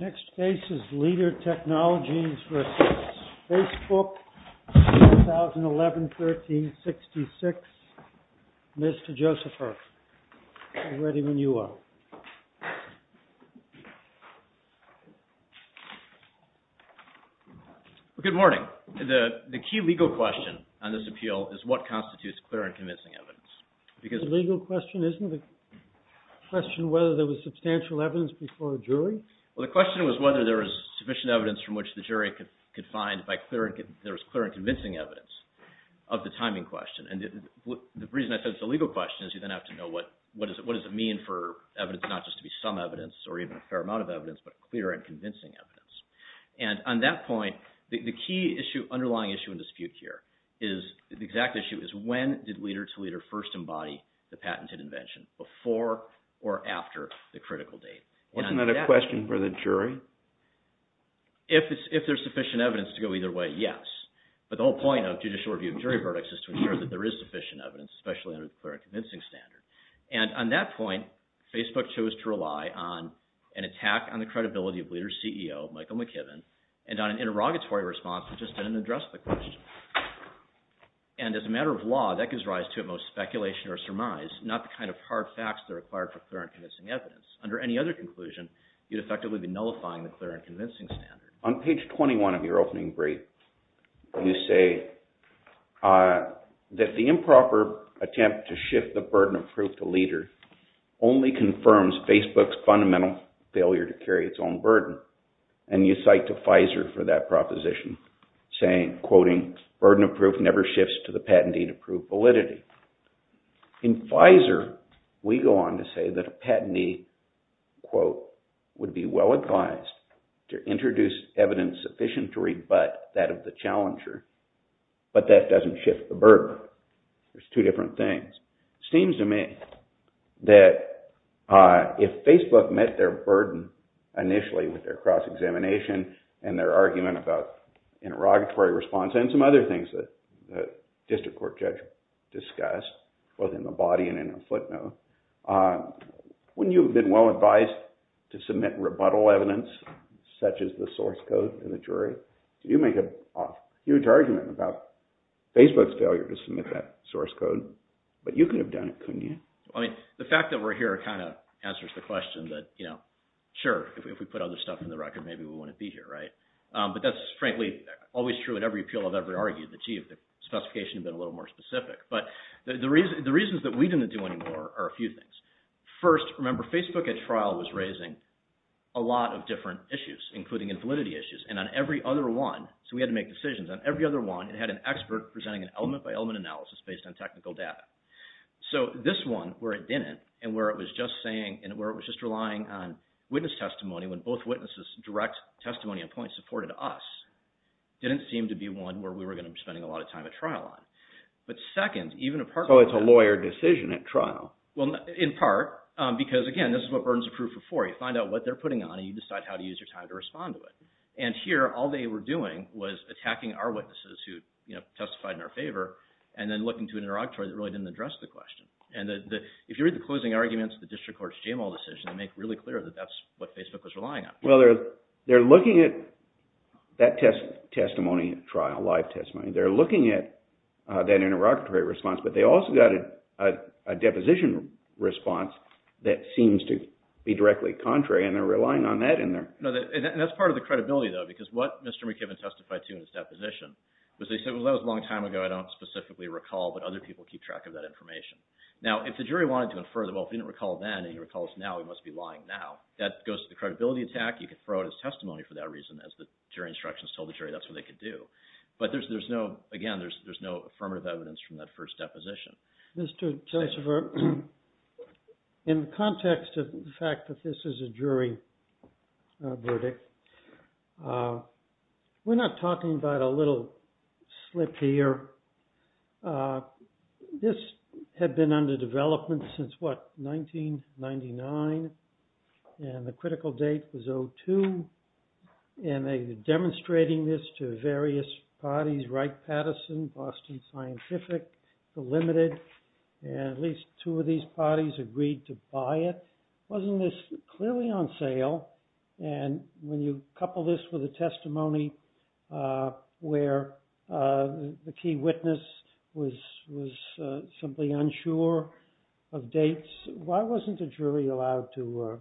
Next case is LEADER TECHNOLOGY v. FACEBOOK 2011-13-66. Mr. Josepher, get ready when you are. Good morning. The key legal question on this appeal is what constitutes clear and convincing evidence. The legal question isn't the question whether there was substantial evidence before a jury? Well, the question was whether there was sufficient evidence from which the jury could find if there was clear and convincing evidence of the timing question. And the reason I said it's a legal question is you then have to know what does it mean for evidence not just to be some evidence or even a fair amount of evidence, but clear and convincing evidence. And on that point, the key underlying issue in dispute here is the exact issue is when did leader to leader first embody the patented invention, before or after the critical date? Wasn't that a question for the jury? If there's sufficient evidence to go either way, yes. But the whole point of judicial review of jury verdicts is to ensure that there is sufficient evidence, especially under the clear and convincing standard. And on that point, Facebook chose to rely on an attack on the credibility of leader CEO, Michael McKibben, and on an interrogatory response that just didn't address the question. And as a matter of law, that gives rise to at most speculation or surmise, not the kind of hard facts that are required for clear and convincing evidence. Under any other conclusion, you'd effectively be nullifying the clear and convincing standard. On page 21 of your opening brief, you say that the improper attempt to shift the burden of proof to leader only confirms Facebook's fundamental failure to carry its own burden. And you cite to Pfizer for that proposition, saying, quoting, burden of proof never shifts to the patentee to prove validity. In Pfizer, we go on to say that a patentee, quote, would be well advised to introduce evidence sufficient to rebut that of the challenger, but that doesn't shift the burden. There's two different things. It seems to me that if Facebook met their burden initially with their cross-examination and their argument about interrogatory response and some other things that the district court judge discussed, both in the body and in the footnote, wouldn't you have been well advised to submit rebuttal evidence, such as the source code in the jury? You make a huge argument about Facebook's failure to submit that source code, but you could have done it, couldn't you? I mean, the fact that we're here kind of answers the question that, sure, if we put other stuff in the record, maybe we wouldn't be here, right? But that's frankly always true in every appeal I've ever argued that, gee, if the specification had been a little more specific. But the reasons that we didn't do any more are a few things. First, remember, Facebook at trial was raising a lot of different issues, including invalidity issues. And on every other one, so we had to make decisions on every other one, it had an expert presenting an element-by-element analysis based on technical data. So this one, where it didn't, and where it was just relying on witness testimony when both witnesses' direct testimony and points supported us, didn't seem to be one where we were going to be spending a lot of time at trial on. So it's a lawyer decision at trial. Well, in part, because again, this is what burdens of proof are for. You find out what they're putting on, and you decide how to use your time to respond to it. And here, all they were doing was attacking our witnesses who testified in our favor, and then looking to an interrogatory that really didn't address the question. And if you read the closing arguments of the district court's JML decision, they make it really clear that that's what Facebook was relying on. Well, they're looking at that testimony at trial, live testimony. They're looking at that interrogatory response, but they also got a deposition response that seems to be directly contrary, and they're relying on that. And that's part of the credibility, though, because what Mr. McKibben testified to in his deposition was that he said, well, that was a long time ago. I don't specifically recall, but other people keep track of that information. Now, if the jury wanted to infer that, well, if he didn't recall then, and he recalls now, he must be lying now, that goes to the credibility attack. You could throw out his testimony for that reason, as the jury instructions told the jury that's what they could do. But there's no – again, there's no affirmative evidence from that first deposition. Mr. Christopher, in the context of the fact that this is a jury verdict, we're not talking about a little slip here. This had been under development since, what, 1999, and the critical date was 02. And they were demonstrating this to various parties, Wright-Patterson, Boston Scientific, the Limited, and at least two of these parties agreed to buy it. Wasn't this clearly on sale? And when you couple this with a testimony where the key witness was simply unsure of dates, why wasn't the jury allowed to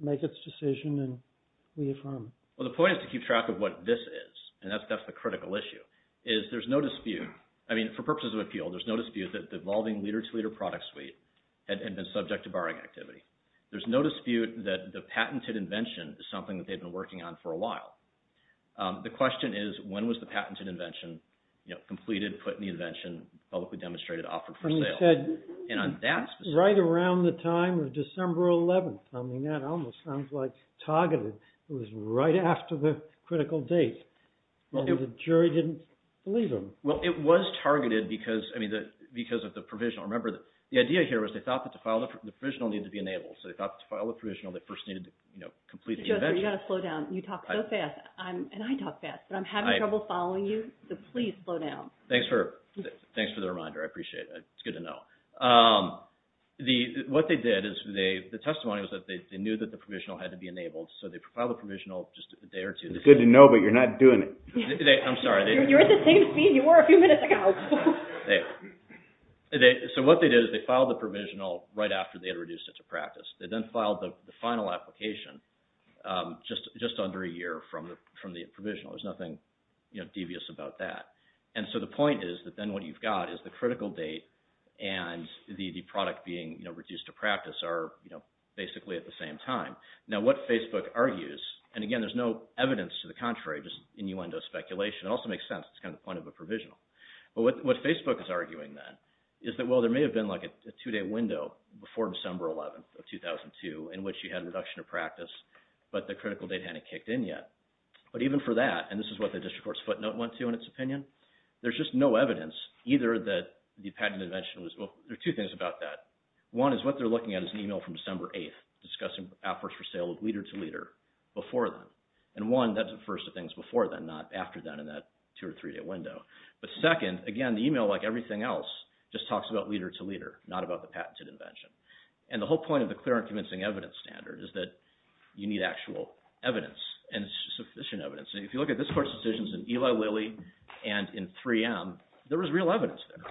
make its decision and reaffirm it? Well, the point is to keep track of what this is, and that's the critical issue, is there's no dispute. I mean, for purposes of appeal, there's no dispute that the evolving leader-to-leader product suite had been subject to barring activity. There's no dispute that the patented invention is something that they've been working on for a while. The question is, when was the patented invention completed, put in the invention, publicly demonstrated, offered for sale? And you said right around the time of December 11th. I mean, that almost sounds like targeted. It was right after the critical date, and the jury didn't believe them. Well, it was targeted because of the provisional. Remember, the idea here was they thought that the provisional needed to be enabled, so they thought that to file the provisional, they first needed to complete the invention. Joseph, you've got to slow down. You talk so fast, and I talk fast, but I'm having trouble following you, so please slow down. Thanks for the reminder. I appreciate it. It's good to know. What they did is the testimony was that they knew that the provisional had to be enabled, so they filed the provisional just a day or two. It's good to know, but you're not doing it. I'm sorry. You're at the same speed you were a few minutes ago. So what they did is they filed the provisional right after they had reduced it to practice. They then filed the final application just under a year from the provisional. There's nothing devious about that. And so the point is that then what you've got is the critical date and the product being reduced to practice are basically at the same time. Now, what Facebook argues, and again, there's no evidence to the contrary, just innuendo speculation. It also makes sense. It's kind of the point of a provisional. But what Facebook is arguing then is that, well, there may have been like a two-day window before December 11th of 2002 in which you had a reduction of practice, but the critical date hadn't kicked in yet. But even for that, and this is what the district court's footnote went to in its opinion, there's just no evidence either that the patent invention was – well, there are two things about that. One is what they're looking at is an email from December 8th discussing efforts for sale of leader-to-leader before then. And one, that's the first of things before then, not after then in that two- or three-day window. But second, again, the email, like everything else, just talks about leader-to-leader, not about the patented invention. And the whole point of the clear and convincing evidence standard is that you need actual evidence and sufficient evidence. And if you look at this court's decisions in Eli Lilly and in 3M, there was real evidence there.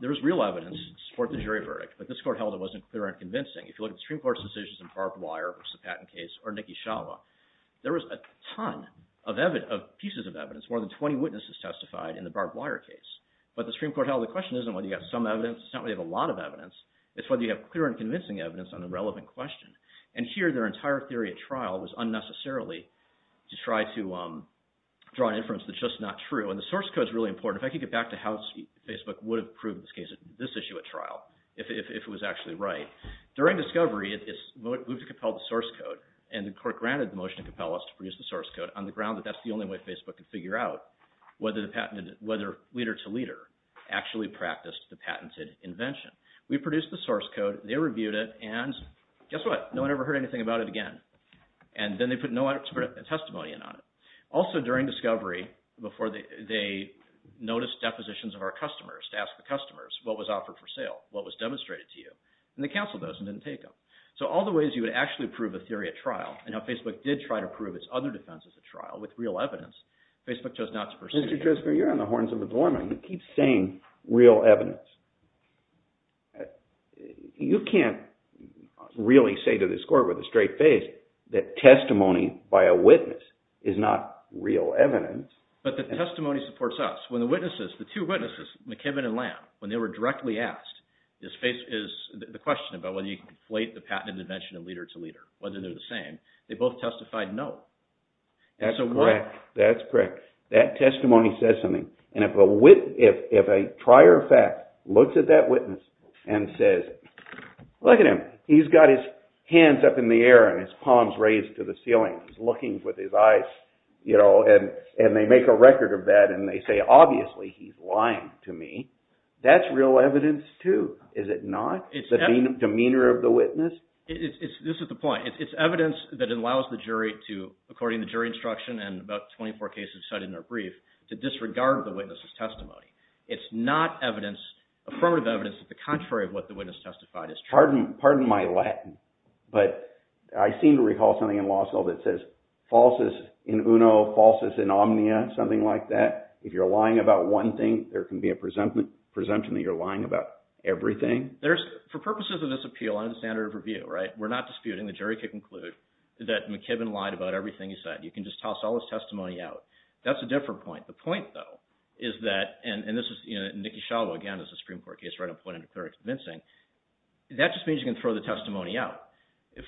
There was real evidence to support the jury verdict, but this court held it wasn't clear and convincing. If you look at the Supreme Court's decisions in Barb Wire, which is the patent case, or Nikki Shalva, there was a ton of pieces of evidence. More than 20 witnesses testified in the Barb Wire case. But the Supreme Court held the question isn't whether you have some evidence. It's not whether you have a lot of evidence. It's whether you have clear and convincing evidence on a relevant question. And here, their entire theory at trial was unnecessarily to try to draw an inference that's just not true. And the source code is really important. If I could get back to how Facebook would have proved this issue at trial if it was actually right. During discovery, we've compelled the source code, and the court granted the motion to compel us to produce the source code on the ground that that's the only way Facebook could figure out whether leader-to-leader actually practiced the patented invention. We produced the source code. They reviewed it, and guess what? No one ever heard anything about it again. And then they put no expert testimony in on it. Also, during discovery, before they noticed depositions of our customers, to ask the customers what was offered for sale, what was demonstrated to you. And they canceled those and didn't take them. So all the ways you would actually prove a theory at trial, and how Facebook did try to prove its other defenses at trial with real evidence, Facebook chose not to pursue. Mr. Driscoll, you're on the horns of a dormant. You keep saying real evidence. You can't really say to this court with a straight face that testimony by a witness is not real evidence. But the testimony supports us. When the witnesses, the two witnesses, McKibbin and Lamb, when they were directly asked, the question about whether you can conflate the patented invention of leader-to-leader, whether they're the same, they both testified no. That's correct. That testimony says something. And if a trier of fact looks at that witness and says, look at him. He's got his hands up in the air and his palms raised to the ceiling. He's looking with his eyes. And they make a record of that. And they say, obviously, he's lying to me. That's real evidence, too, is it not? The demeanor of the witness? This is the point. It's evidence that allows the jury to, according to jury instruction and about 24 cases cited in their brief, to disregard the witness's testimony. It's not affirmative evidence that the contrary of what the witness testified is true. Pardon my Latin, but I seem to recall something in law school that says falsus in uno, falsus in omnia, something like that. If you're lying about one thing, there can be a presumption that you're lying about everything. For purposes of this appeal, under the standard of review, we're not disputing. The jury could conclude that McKibben lied about everything he said. You can just toss all his testimony out. That's a different point. The point, though, is that, and this is, you know, Niki Schiavo, again, this is a Supreme Court case, right? I'm pointing to clear and convincing. That just means you can throw the testimony out.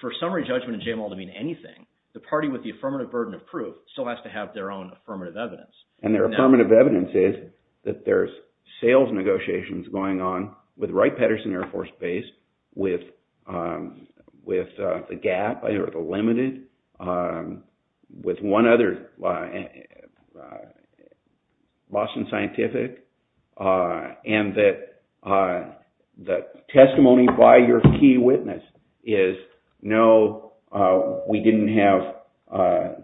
For summary judgment in JMOL to mean anything, the party with the affirmative burden of proof still has to have their own affirmative evidence. And their affirmative evidence is that there's sales negotiations going on with Wright-Petterson Air Force Base, with the gap, or the limited, with one other, Boston Scientific, and that the testimony by your key witness is, no, we didn't have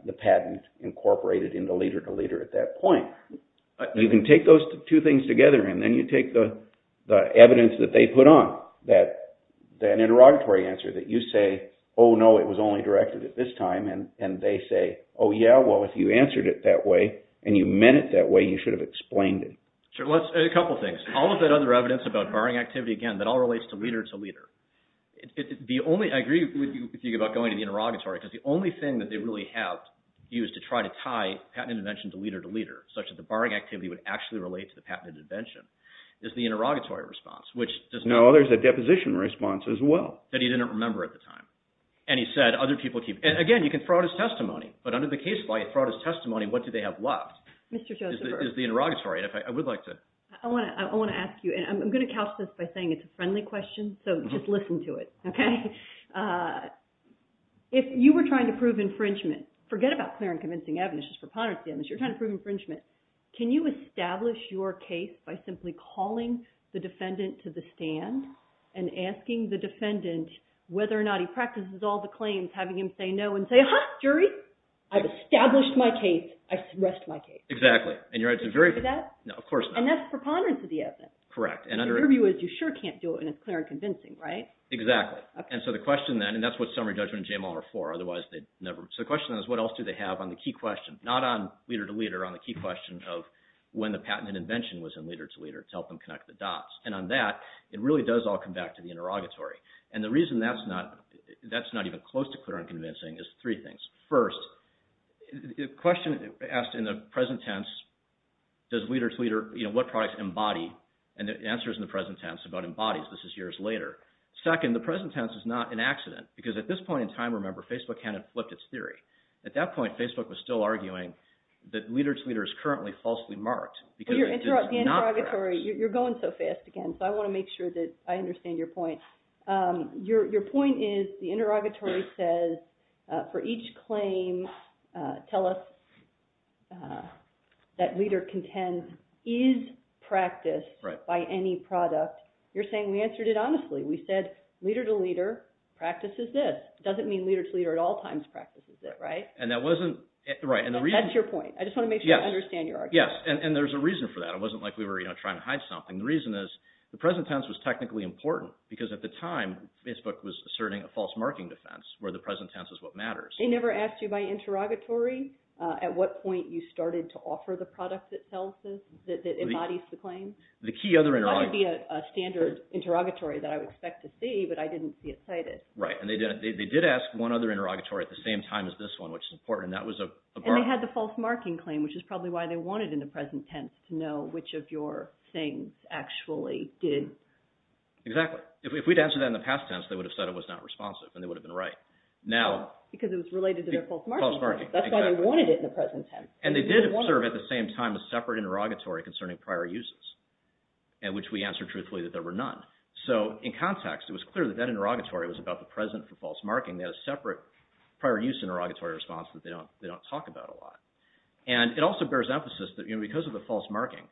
the patent incorporated in the leader-to-leader at that point. You can take those two things together, and then you take the evidence that they put on, that an interrogatory answer, that you say, oh, no, it was only directed at this time, and they say, oh, yeah, well, if you answered it that way and you meant it that way, you should have explained it. Sure. A couple things. All of that other evidence about barring activity, again, that all relates to leader-to-leader. The only, I agree with you about going to the interrogatory, because the only thing that they really have used to try to tie patent intervention to leader-to-leader, such as the barring activity would actually relate to the patent intervention, is the interrogatory response, which does not. No, there's a deposition response as well. That he didn't remember at the time. And he said, other people keep – again, you can throw out his testimony, but under the case law, you throw out his testimony. What do they have left is the interrogatory. I would like to – I want to ask you, and I'm going to couch this by saying it's a friendly question, so just listen to it, okay? If you were trying to prove infringement, forget about clear and convincing evidence, just preponderance of evidence. You're trying to prove infringement. Can you establish your case by simply calling the defendant to the stand and asking the defendant whether or not he practices all the claims, having him say no, and say, ah-ha, jury, I've established my case. I've suppressed my case. Exactly. And that's preponderance of the evidence. Correct. Your view is you sure can't do it in a clear and convincing, right? Exactly. And so the question then, and that's what summary judgment and JML are for. So the question then is what else do they have on the key question? Not on leader to leader, on the key question of when the patent and invention was in leader to leader to help them connect the dots. And on that, it really does all come back to the interrogatory. And the reason that's not even close to clear and convincing is three things. First, the question asked in the present tense, does leader to leader – what products embody? And the answer is in the present tense about embodies. This is years later. Second, the present tense is not an accident. Because at this point in time, remember, Facebook hadn't flipped its theory. At that point, Facebook was still arguing that leader to leader is currently falsely marked. Well, the interrogatory – you're going so fast again, so I want to make sure that I understand your point. Your point is the interrogatory says for each claim, tell us that leader contends is practiced by any product. You're saying we answered it honestly. We said leader to leader practices this. It doesn't mean leader to leader at all times practices it, right? And that wasn't – right. That's your point. I just want to make sure I understand your argument. Yes, and there's a reason for that. It wasn't like we were trying to hide something. The reason is the present tense was technically important because at the time, Facebook was asserting a false marking defense where the present tense is what matters. They never asked you by interrogatory at what point you started to offer the product that embodies the claim? It might be a standard interrogatory that I would expect to see, but I didn't see it cited. Right, and they did ask one other interrogatory at the same time as this one, which is important, and that was a – And they had the false marking claim, which is probably why they wanted in the present tense to know which of your things actually did. Exactly. If we'd answered that in the past tense, they would have said it was not responsive, and they would have been right. Because it was related to their false marking claim. False marking, exactly. That's why they wanted it in the present tense. And they did observe at the same time a separate interrogatory concerning prior uses, in which we answered truthfully that there were none. So in context, it was clear that that interrogatory was about the present for false marking. They had a separate prior use interrogatory response that they don't talk about a lot. And it also bears emphasis that because of the false marking,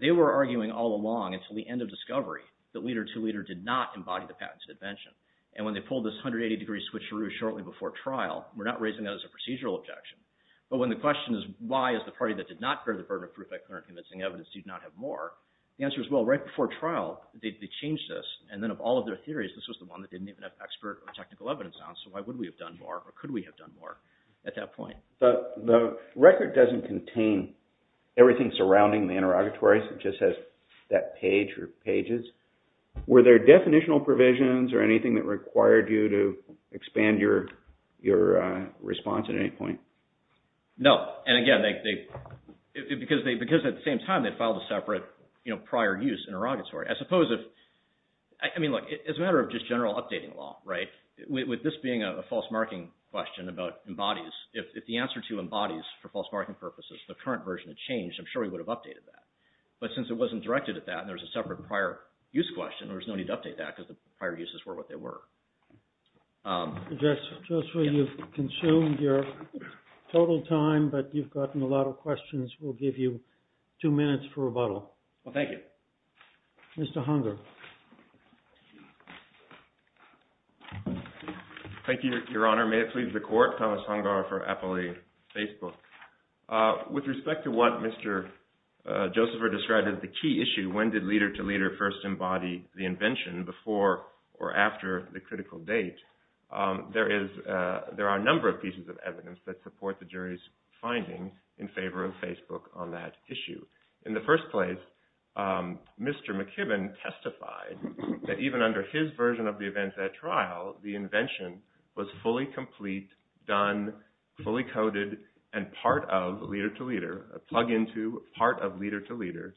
they were arguing all along until the end of discovery that Leader 2 Leader did not embody the patented invention. And when they pulled this 180-degree switcheroo shortly before trial, we're not raising that as a procedural objection. But when the question is, why is the party that did not bear the burden of proof by clear and convincing evidence did not have more, the answer is, well, right before trial, they changed this. And then of all of their theories, this was the one that didn't even have expert or technical evidence on. So why would we have done more or could we have done more at that point? But the record doesn't contain everything surrounding the interrogatories. It just has that page or pages. Were there definitional provisions or anything that required you to expand your response at any point? No. And again, because at the same time, they filed a separate prior use interrogatory. I mean, look, it's a matter of just general updating law, right? With this being a false marking question about embodies, if the answer to embodies for false marking purposes, the current version had changed, I'm sure we would have updated that. But since it wasn't directed at that and there was a separate prior use question, there was no need to update that because the prior uses were what they were. Joseph, you've consumed your total time, but you've gotten a lot of questions. We'll give you two minutes for rebuttal. Thank you. Mr. Hunger. Thank you, Your Honor. May it please the Court. Thomas Hunger for Appli Facebook. With respect to what Mr. Josepher described as the key issue, when did leader-to-leader first embody the invention before or after the critical date? There are a number of pieces of evidence that support the jury's finding in favor of Facebook on that issue. In the first place, Mr. McKibbin testified that even under his version of the events at trial, the invention was fully complete, done, fully coded, and part of leader-to-leader, a plug-in to part of leader-to-leader,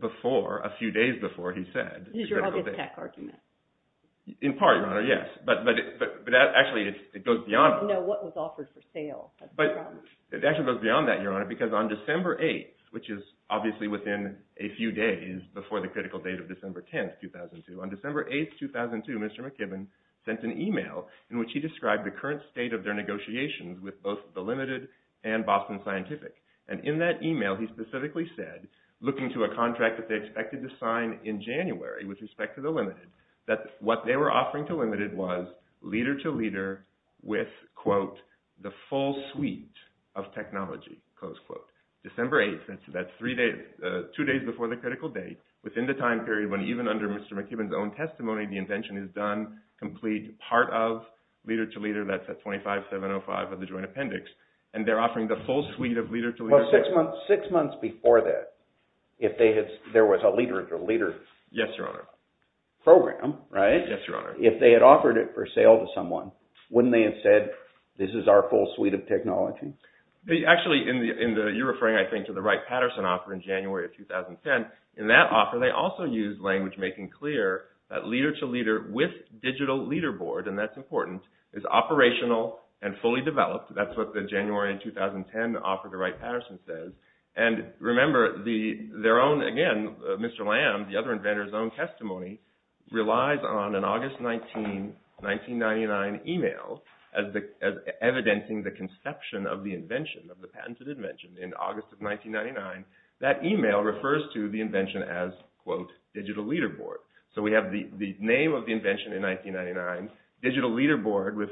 before, a few days before he said the critical date. He's your other tech argument. In part, Your Honor, yes. But actually, it goes beyond that. No, what was offered for sale. It actually goes beyond that, Your Honor, because on December 8th, which is obviously within a few days before the critical date of December 10th, 2002, on December 8th, 2002, Mr. McKibbin sent an email in which he described the current state of their negotiations with both the Limited and Boston Scientific. And in that email, he specifically said, looking to a contract that they expected to sign in January with respect to the Limited, that what they were offering to Limited was leader-to-leader with, quote, the full suite of technology, close quote. December 8th, that's two days before the critical date, within the time period when even under Mr. McKibbin's own testimony, the invention is done, complete, part of leader-to-leader, that's at 25705 of the joint appendix, and they're offering the full suite of leader-to-leader. Well, six months before that, if there was a leader-to-leader program, right? Yes, Your Honor. If they had offered it for sale to someone, wouldn't they have said, this is our full suite of technology? Actually, you're referring, I think, to the Wright-Patterson offer in January of 2010. In that offer, they also used language making clear that leader-to-leader with digital leaderboard, and that's important, is operational and fully developed. That's what the January of 2010 offer to Wright-Patterson says. And remember, their own, again, Mr. Lamb, the other inventor's own testimony, relies on an August 1999 email as evidencing the conception of the invention, of the patented invention. In August of 1999, that email refers to the invention as, quote, digital leaderboard. So we have the name of the invention in 1999, digital leaderboard with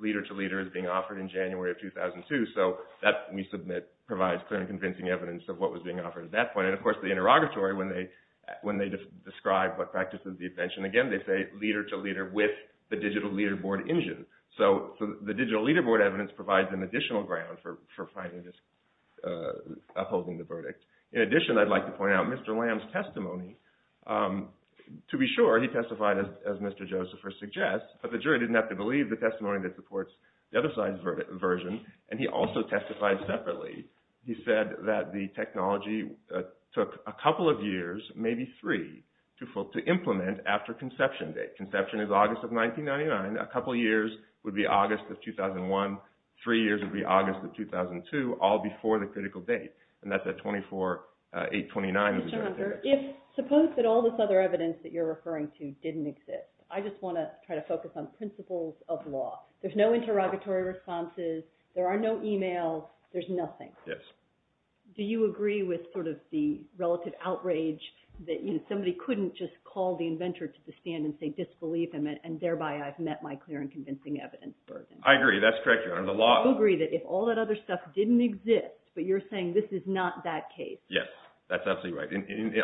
leader-to-leader is being offered in January of 2002. So that, we submit, provides clear and convincing evidence of what was being offered at that point. And of course, the interrogatory, when they describe what practices the invention, again, they say leader-to-leader with the digital leaderboard engine. So the digital leaderboard evidence provides an additional ground for finding this, upholding the verdict. In addition, I'd like to point out Mr. Lamb's testimony. To be sure, he testified as Mr. Josephers suggests, but the jury didn't have to believe the testimony that supports the other side's version, and he also testified separately. He said that the technology took a couple of years, maybe three, to implement after conception date. Mr. Hunter, suppose that all this other evidence that you're referring to didn't exist. I just want to try to focus on principles of law. There's no interrogatory responses. There are no emails. There's nothing. Yes. Do you agree with sort of the relative outrage that somebody couldn't just call the inventor to the stand and say, disbelieve him, and thereby I've met my clear and convincing evidence burden? I agree. That's correct, Your Honor. Do you agree that if all that other stuff didn't exist, but you're saying this is not that case? Yes, that's absolutely right.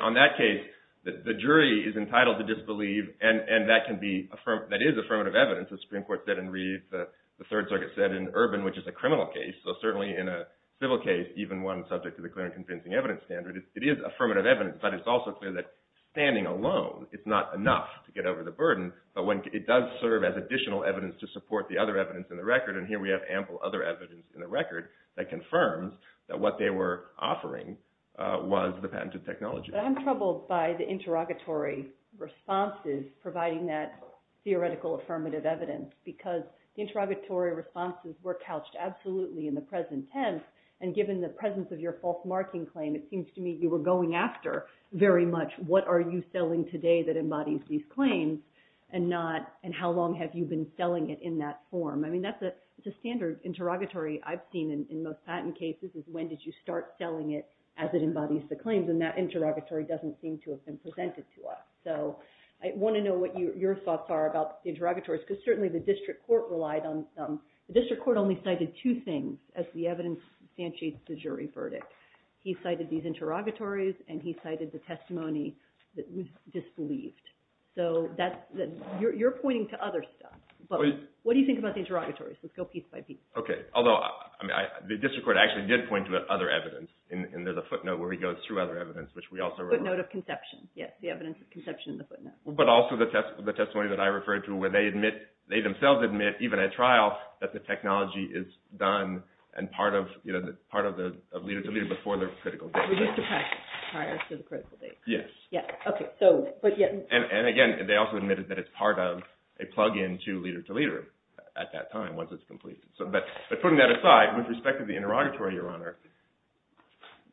On that case, the jury is entitled to disbelieve, and that can be – that is affirmative evidence, as the Supreme Court said in Reed, the Third Circuit said in Urban, which is a criminal case. So certainly in a civil case, even one subject to the clear and convincing evidence standard, it is affirmative evidence, but it's also clear that standing alone is not enough to get over the burden. But it does serve as additional evidence to support the other evidence in the record, and here we have ample other evidence in the record that confirms that what they were offering was the patented technology. But I'm troubled by the interrogatory responses providing that theoretical affirmative evidence because the interrogatory responses were couched absolutely in the present tense, and given the presence of your false marking claim, it seems to me you were going after very much what are you selling today that embodies these claims, and how long have you been selling it in that form? I mean, that's a standard interrogatory I've seen in most patent cases is when did you start selling it as it embodies the claims, and that interrogatory doesn't seem to have been presented to us. So I want to know what your thoughts are about the interrogatories because certainly the district court relied on – the district court only cited two things as the evidence substantiates the jury verdict. He cited these interrogatories, and he cited the testimony that was disbelieved. So you're pointing to other stuff, but what do you think about the interrogatories? Let's go piece by piece. Okay. Although the district court actually did point to other evidence, and there's a footnote where he goes through other evidence, which we also remember. The footnote of conception. Yes, the evidence of conception in the footnote. But also the testimony that I referred to where they admit – they themselves admit even at trial that the technology is done and part of the leader-to-leader before the critical date. We used to practice prior to the critical date. Yes. Okay. And again, they also admitted that it's part of a plug-in to leader-to-leader at that time once it's completed. But putting that aside, with respect to the interrogatory, Your Honor,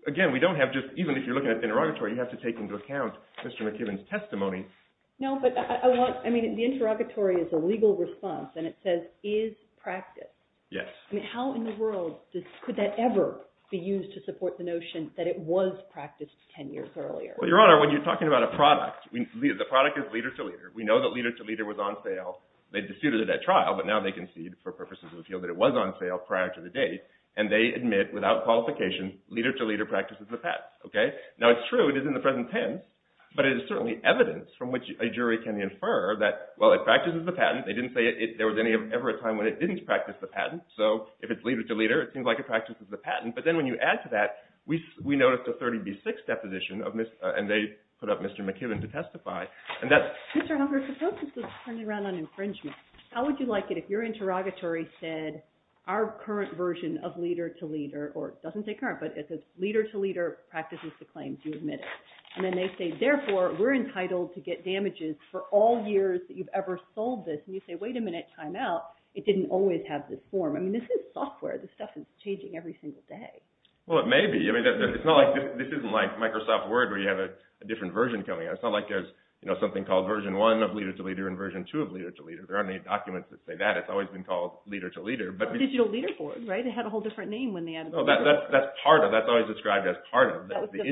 again, we don't have just – even if you're looking at the interrogatory, you have to take into account Mr. McKibben's testimony. No, but I want – I mean, the interrogatory is a legal response, and it says, is practice. Yes. I mean, how in the world could that ever be used to support the notion that it was practiced 10 years earlier? Well, Your Honor, when you're talking about a product, the product is leader-to-leader. We know that leader-to-leader was on sale. They disputed it at trial, but now they concede for purposes of appeal that it was on sale prior to the date, and they admit without qualification, leader-to-leader practices the patent. Okay? Now, it's true it is in the present tense, but it is certainly evidence from which a jury can infer that, well, it practices the patent. They didn't say there was ever a time when it didn't practice the patent. So if it's leader-to-leader, it seems like it practices the patent. But then when you add to that, we noticed a 30B6 deposition of – and they put up Mr. McKibben to testify. Mr. Hunker, suppose this was turned around on infringement. How would you like it if your interrogatory said our current version of leader-to-leader – or it doesn't say current, but it says leader-to-leader practices the claim. Do you admit it? And then they say, therefore, we're entitled to get damages for all years that you've ever sold this. And you say, wait a minute, time out. It didn't always have this form. I mean, this is software. This stuff is changing every single day. Well, it may be. I mean, it's not like – this isn't like Microsoft Word where you have a different version coming out. It's not like there's something called version one of leader-to-leader and version two of leader-to-leader. There aren't any documents that say that. It's always been called leader-to-leader. Digital leaderboard, right? It had a whole different name when they added the – That's part of – that's always described as part of. That's the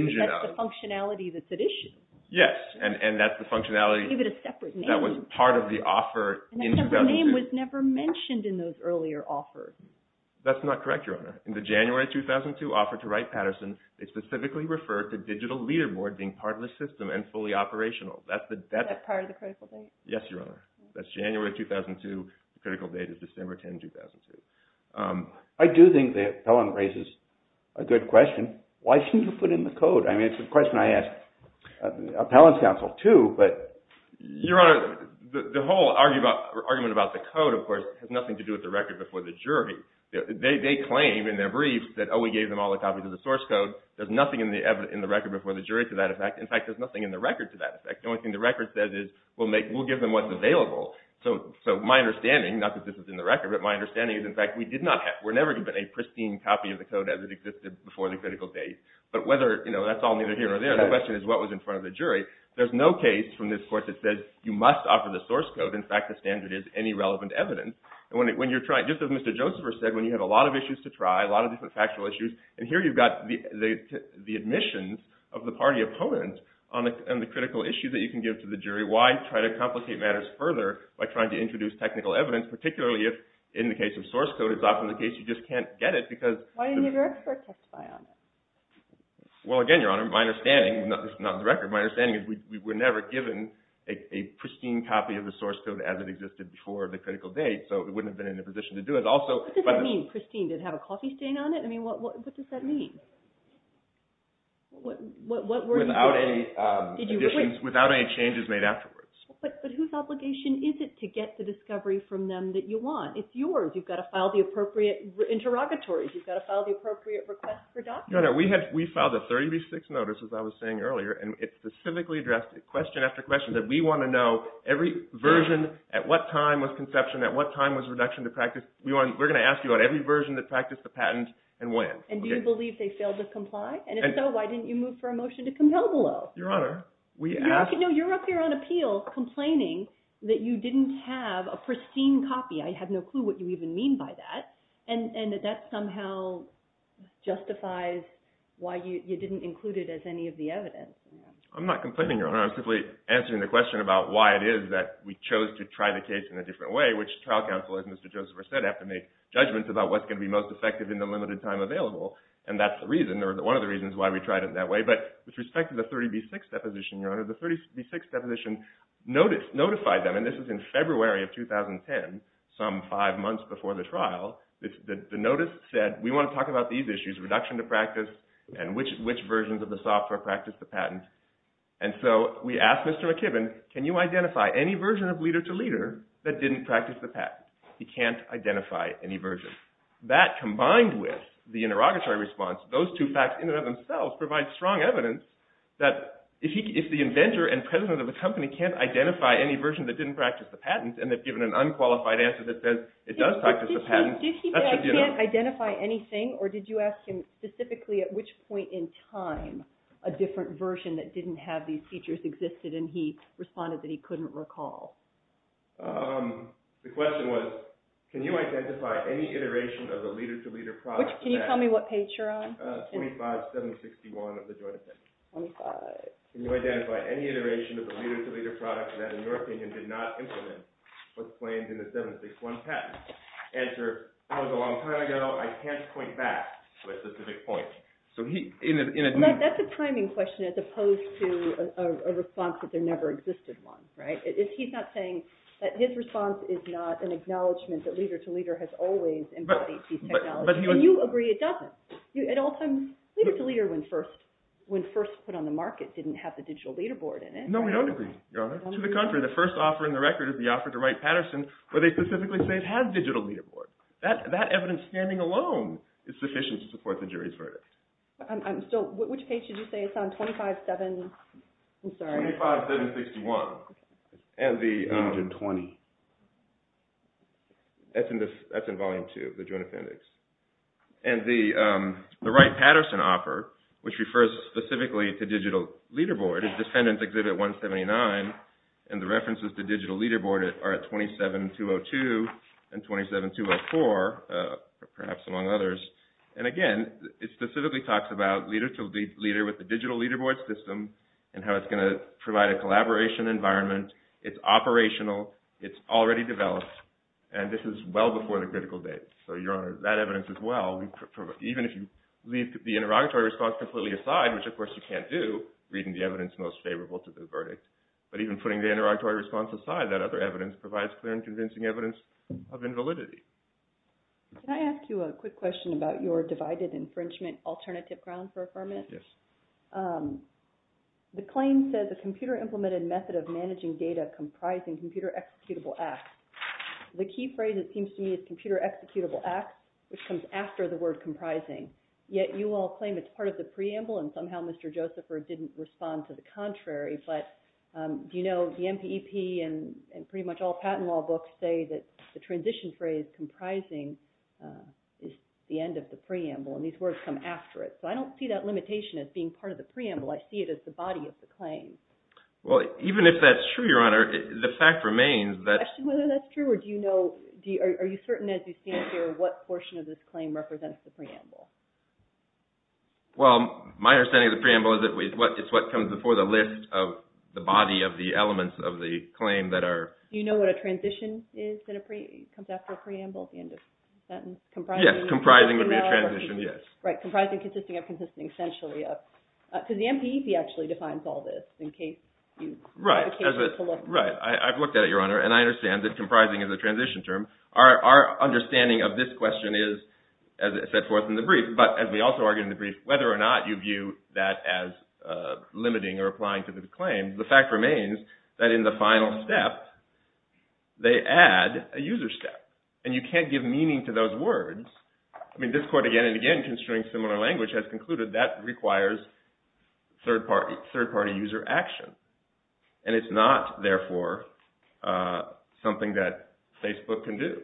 functionality that's at issue. Yes, and that's the functionality – Give it a separate name. That was part of the offer in 2002. The name was never mentioned in those earlier offers. That's not correct, Your Honor. In the January 2002 offer to Wright-Patterson, they specifically referred to digital leaderboard being part of the system and fully operational. That's the – Is that part of the critical date? Yes, Your Honor. That's January 2002. The critical date is December 10, 2002. I do think the appellant raises a good question. Why shouldn't you put in the code? I mean, it's a question I ask appellants counsel too, but – Your Honor, the whole argument about the code, of course, has nothing to do with the record before the jury. They claim in their brief that, oh, we gave them all the copies of the source code. There's nothing in the record before the jury to that effect. In fact, there's nothing in the record to that effect. The only thing the record says is we'll give them what's available. So my understanding, not that this is in the record, but my understanding is, in fact, we did not have – we're never given a pristine copy of the code as it existed before the critical date. But whether – you know, that's all neither here nor there. The question is what was in front of the jury. There's no case from this court that says you must offer the source code. In fact, the standard is any relevant evidence. Just as Mr. Josepher said, when you have a lot of issues to try, a lot of different factual issues, and here you've got the admissions of the party opponent on the critical issue that you can give to the jury, why try to complicate matters further by trying to introduce technical evidence, particularly if, in the case of source code, it's often the case you just can't get it because – Why didn't your expert testify on it? Well, again, Your Honor, my understanding – this is not in the record – but my understanding is we were never given a pristine copy of the source code as it existed before the critical date, so it wouldn't have been in a position to do it. Also – What does that mean, pristine? Did it have a coffee stain on it? I mean, what does that mean? What were you doing? Without any additions – without any changes made afterwards. But whose obligation is it to get the discovery from them that you want? It's yours. You've got to file the appropriate interrogatories. You've got to file the appropriate requests for documents. Your Honor, we filed a 30B6 notice, as I was saying earlier, and it specifically addressed question after question that we want to know every version, at what time was conception, at what time was reduction to practice. We're going to ask you about every version that practiced the patent and when. And do you believe they failed to comply? And if so, why didn't you move for a motion to compel below? Your Honor, we asked – No, you're up here on appeal complaining that you didn't have a pristine copy. I have no clue what you even mean by that. And that that somehow justifies why you didn't include it as any of the evidence. I'm not complaining, Your Honor. I'm simply answering the question about why it is that we chose to try the case in a different way, which trial counsel, as Mr. Joseph said, have to make judgments about what's going to be most effective in the limited time available. And that's the reason, or one of the reasons why we tried it that way. But with respect to the 30B6 deposition, Your Honor, the 30B6 deposition notified them, and this was in February of 2010, some five months before the trial. The notice said, we want to talk about these issues, reduction to practice, and which versions of the software practiced the patent. And so we asked Mr. McKibbin, can you identify any version of leader-to-leader that didn't practice the patent? He can't identify any version. That combined with the interrogatory response, those two facts in and of themselves provide strong evidence that if the inventor and president of a company can't identify any version that didn't practice the patent, and they've given an unqualified answer that says it does practice the patent. Did he say he can't identify anything, or did you ask him specifically at which point in time a different version that didn't have these features existed, and he responded that he couldn't recall? The question was, can you identify any iteration of the leader-to-leader process? Can you tell me what page you're on? 25761 of the Joint Attorney. Can you identify any iteration of the leader-to-leader product that, in your opinion, did not implement what's claimed in the 761 patent? Answer, that was a long time ago. I can't point back to a specific point. That's a timing question as opposed to a response that there never existed one. He's not saying that his response is not an acknowledgement that leader-to-leader has always embodied these technologies. And you agree it doesn't. At all times, leader-to-leader, when first put on the market, didn't have the digital leaderboard in it. No, we don't agree, Your Honor. To the contrary. The first offer in the record is the offer to Wright-Patterson where they specifically say it has digital leaderboard. That evidence standing alone is sufficient to support the jury's verdict. So which page did you say it's on? 257 – I'm sorry. 25761. And the – 820. That's in Volume 2 of the Joint Appendix. And the Wright-Patterson offer, which refers specifically to digital leaderboard, is Defendant Exhibit 179, and the references to digital leaderboard are at 27202 and 27204, perhaps among others. And, again, it specifically talks about leader-to-leader with the digital leaderboard system and how it's going to provide a collaboration environment. It's operational. It's already developed. And this is well before the critical days. So, Your Honor, that evidence as well, even if you leave the interrogatory response completely aside, which, of course, you can't do, reading the evidence most favorable to the verdict, but even putting the interrogatory response aside, that other evidence provides clear and convincing evidence of invalidity. Can I ask you a quick question about your divided infringement alternative grounds for affirmation? Yes. The claim says a computer-implemented method of managing data comprising computer-executable acts. The key phrase, it seems to me, is computer-executable acts, which comes after the word comprising. Yet you all claim it's part of the preamble, and somehow Mr. Josepher didn't respond to the contrary, but do you know the NPEP and pretty much all patent law books say that the transition phrase comprising is the end of the preamble, and these words come after it. So I don't see that limitation as being part of the preamble. I see it as the body of the claim. Well, even if that's true, Your Honor, the fact remains that do you question whether that's true, or are you certain as you stand here what portion of this claim represents the preamble? Well, my understanding of the preamble is it's what comes before the list of the body of the elements of the claim that are— Do you know what a transition is that comes after a preamble at the end of the sentence? Yes, comprising would be a transition, yes. Right, comprising, consisting of, consisting essentially of. Because the NPEP actually defines all this in case you have a case to look at. Right, I've looked at it, Your Honor, and I understand that comprising is a transition term. Our understanding of this question is, as it set forth in the brief, but as we also argued in the brief, whether or not you view that as limiting or applying to the claim, the fact remains that in the final step they add a user step, and you can't give meaning to those words. I mean, this Court again and again, considering similar language, has concluded that requires third-party user action, and it's not, therefore, something that Facebook can do.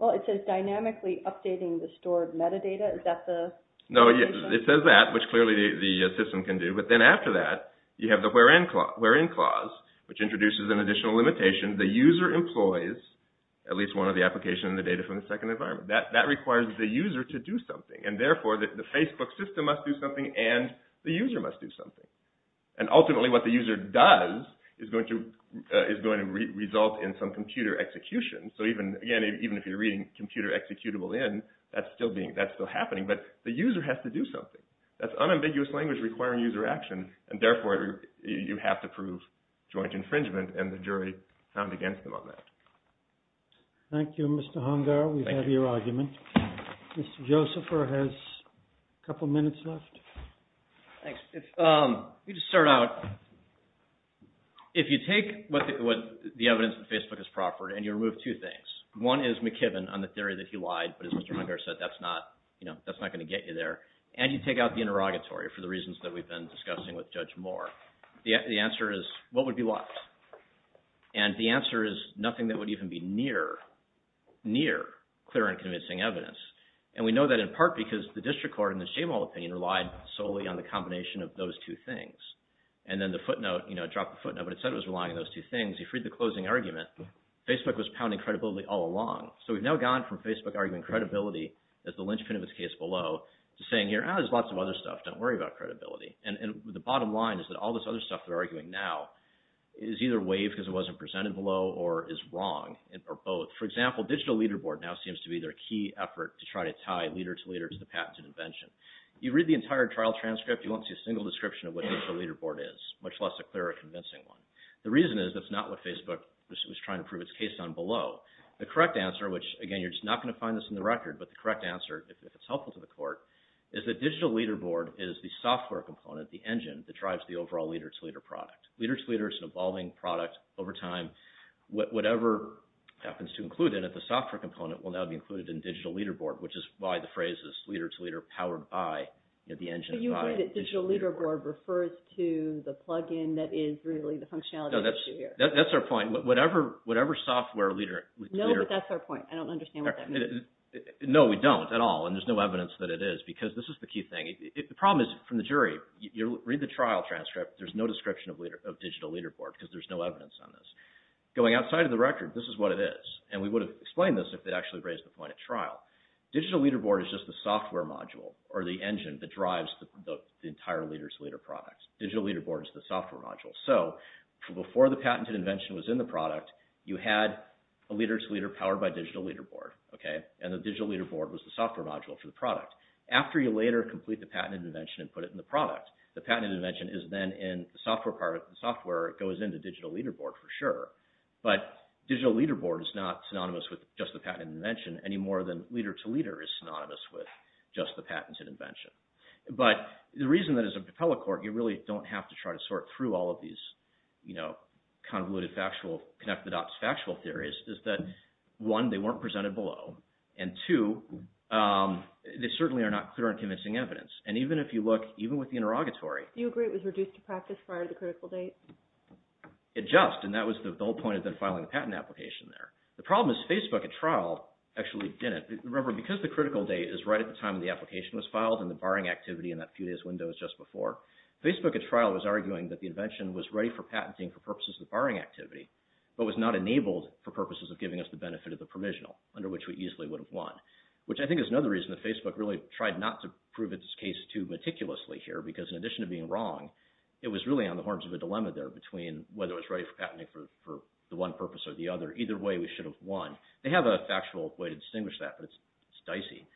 Well, it says dynamically updating the stored metadata. Is that the limitation? No, it says that, which clearly the system can do, but then after that you have the where-in clause, which introduces an additional limitation. The user employs at least one of the application and the data from the second environment. That requires the user to do something, and therefore the Facebook system must do something and the user must do something. And ultimately what the user does is going to result in some computer execution. So again, even if you're reading computer executable in, that's still happening, but the user has to do something. That's unambiguous language requiring user action, and therefore you have to prove joint infringement, and the jury found against them on that. Thank you, Mr. Hungar. We've had your argument. Mr. Josepher has a couple minutes left. Thanks. Let me just start out. If you take the evidence that Facebook has proffered and you remove two things, one is McKibben on the theory that he lied, but as Mr. Hungar said, that's not going to get you there, and you take out the interrogatory for the reasons that we've been discussing with Judge Moore, the answer is what would be what? And the answer is nothing that would even be near clear and convincing evidence. And we know that in part because the district court in this Jamal opinion relied solely on the combination of those two things. And then the footnote, you know, it dropped the footnote, but it said it was relying on those two things. He freed the closing argument. Facebook was pounding credibility all along. So we've now gone from Facebook arguing credibility as the linchpin of its case below to saying here, ah, there's lots of other stuff, don't worry about credibility. And the bottom line is that all this other stuff they're arguing now is either waived because it wasn't presented below or is wrong, or both. For example, Digital Leaderboard now seems to be their key effort to try to tie leader-to-leader to the patented invention. You read the entire trial transcript, you won't see a single description of what Digital Leaderboard is, much less a clear or convincing one. The reason is that's not what Facebook was trying to prove its case on below. The correct answer, which, again, you're just not going to find this in the record, but the correct answer, if it's helpful to the court, is that Digital Leaderboard is the software component, the engine, that drives the overall leader-to-leader product. Leader-to-leader is an evolving product. Over time, whatever happens to include in it, the software component, will now be included in Digital Leaderboard, which is why the phrase is leader-to-leader powered by the engine. So you agree that Digital Leaderboard refers to the plug-in that is really the functionality issue here? No, that's our point. Whatever software leader-to-leader... No, but that's our point. I don't understand what that means. No, we don't at all, and there's no evidence that it is, because this is the key thing. The problem is, from the jury, you read the trial transcript, there's no description of Digital Leaderboard, because there's no evidence on this. Going outside of the record, this is what it is, and we would have explained this if they'd actually raised the point at trial. Digital Leaderboard is just the software module, or the engine, that drives the entire leader-to-leader product. Digital Leaderboard is the software module. So, before the patented invention was in the product, you had a leader-to-leader powered by Digital Leaderboard, and the Digital Leaderboard was the software module for the product. After you later complete the patented invention and put it in the product, the patented invention is then in the software part of the software. It goes into Digital Leaderboard, for sure. But Digital Leaderboard is not synonymous with just the patented invention, any more than leader-to-leader is synonymous with just the patented invention. But the reason that, as a appellate court, you really don't have to try to sort through all of these convoluted, connect-the-dots factual theories, is that, one, they weren't presented below, and two, they certainly are not clear and convincing evidence. And even if you look, even with the interrogatory... Do you agree it was reduced to practice prior to the critical date? It just, and that was the whole point of them filing the patent application there. The problem is Facebook, at trial, actually didn't. Remember, because the critical date is right at the time the application was filed and the barring activity in that few days window is just before, Facebook, at trial, was arguing that the invention was ready for patenting for purposes of the barring activity, but was not enabled for purposes of giving us the benefit of the provisional, under which we easily would have won. Which, I think, is another reason that Facebook really tried not to prove its case too meticulously here, because in addition to being wrong, it was really on the horns of a dilemma there, between whether it was ready for patenting for the one purpose or the other. Either way, we should have won. They have a factual way to distinguish that, but it's dicey.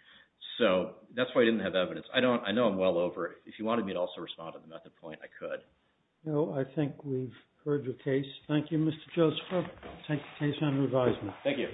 So, that's why I didn't have evidence. I know I'm well over. If you wanted me to also respond to the method point, I could. No, I think we've heard your case. Thank you, Mr. Joseph. I'll take the case under advisement. Thank you. Thank you. Thank you.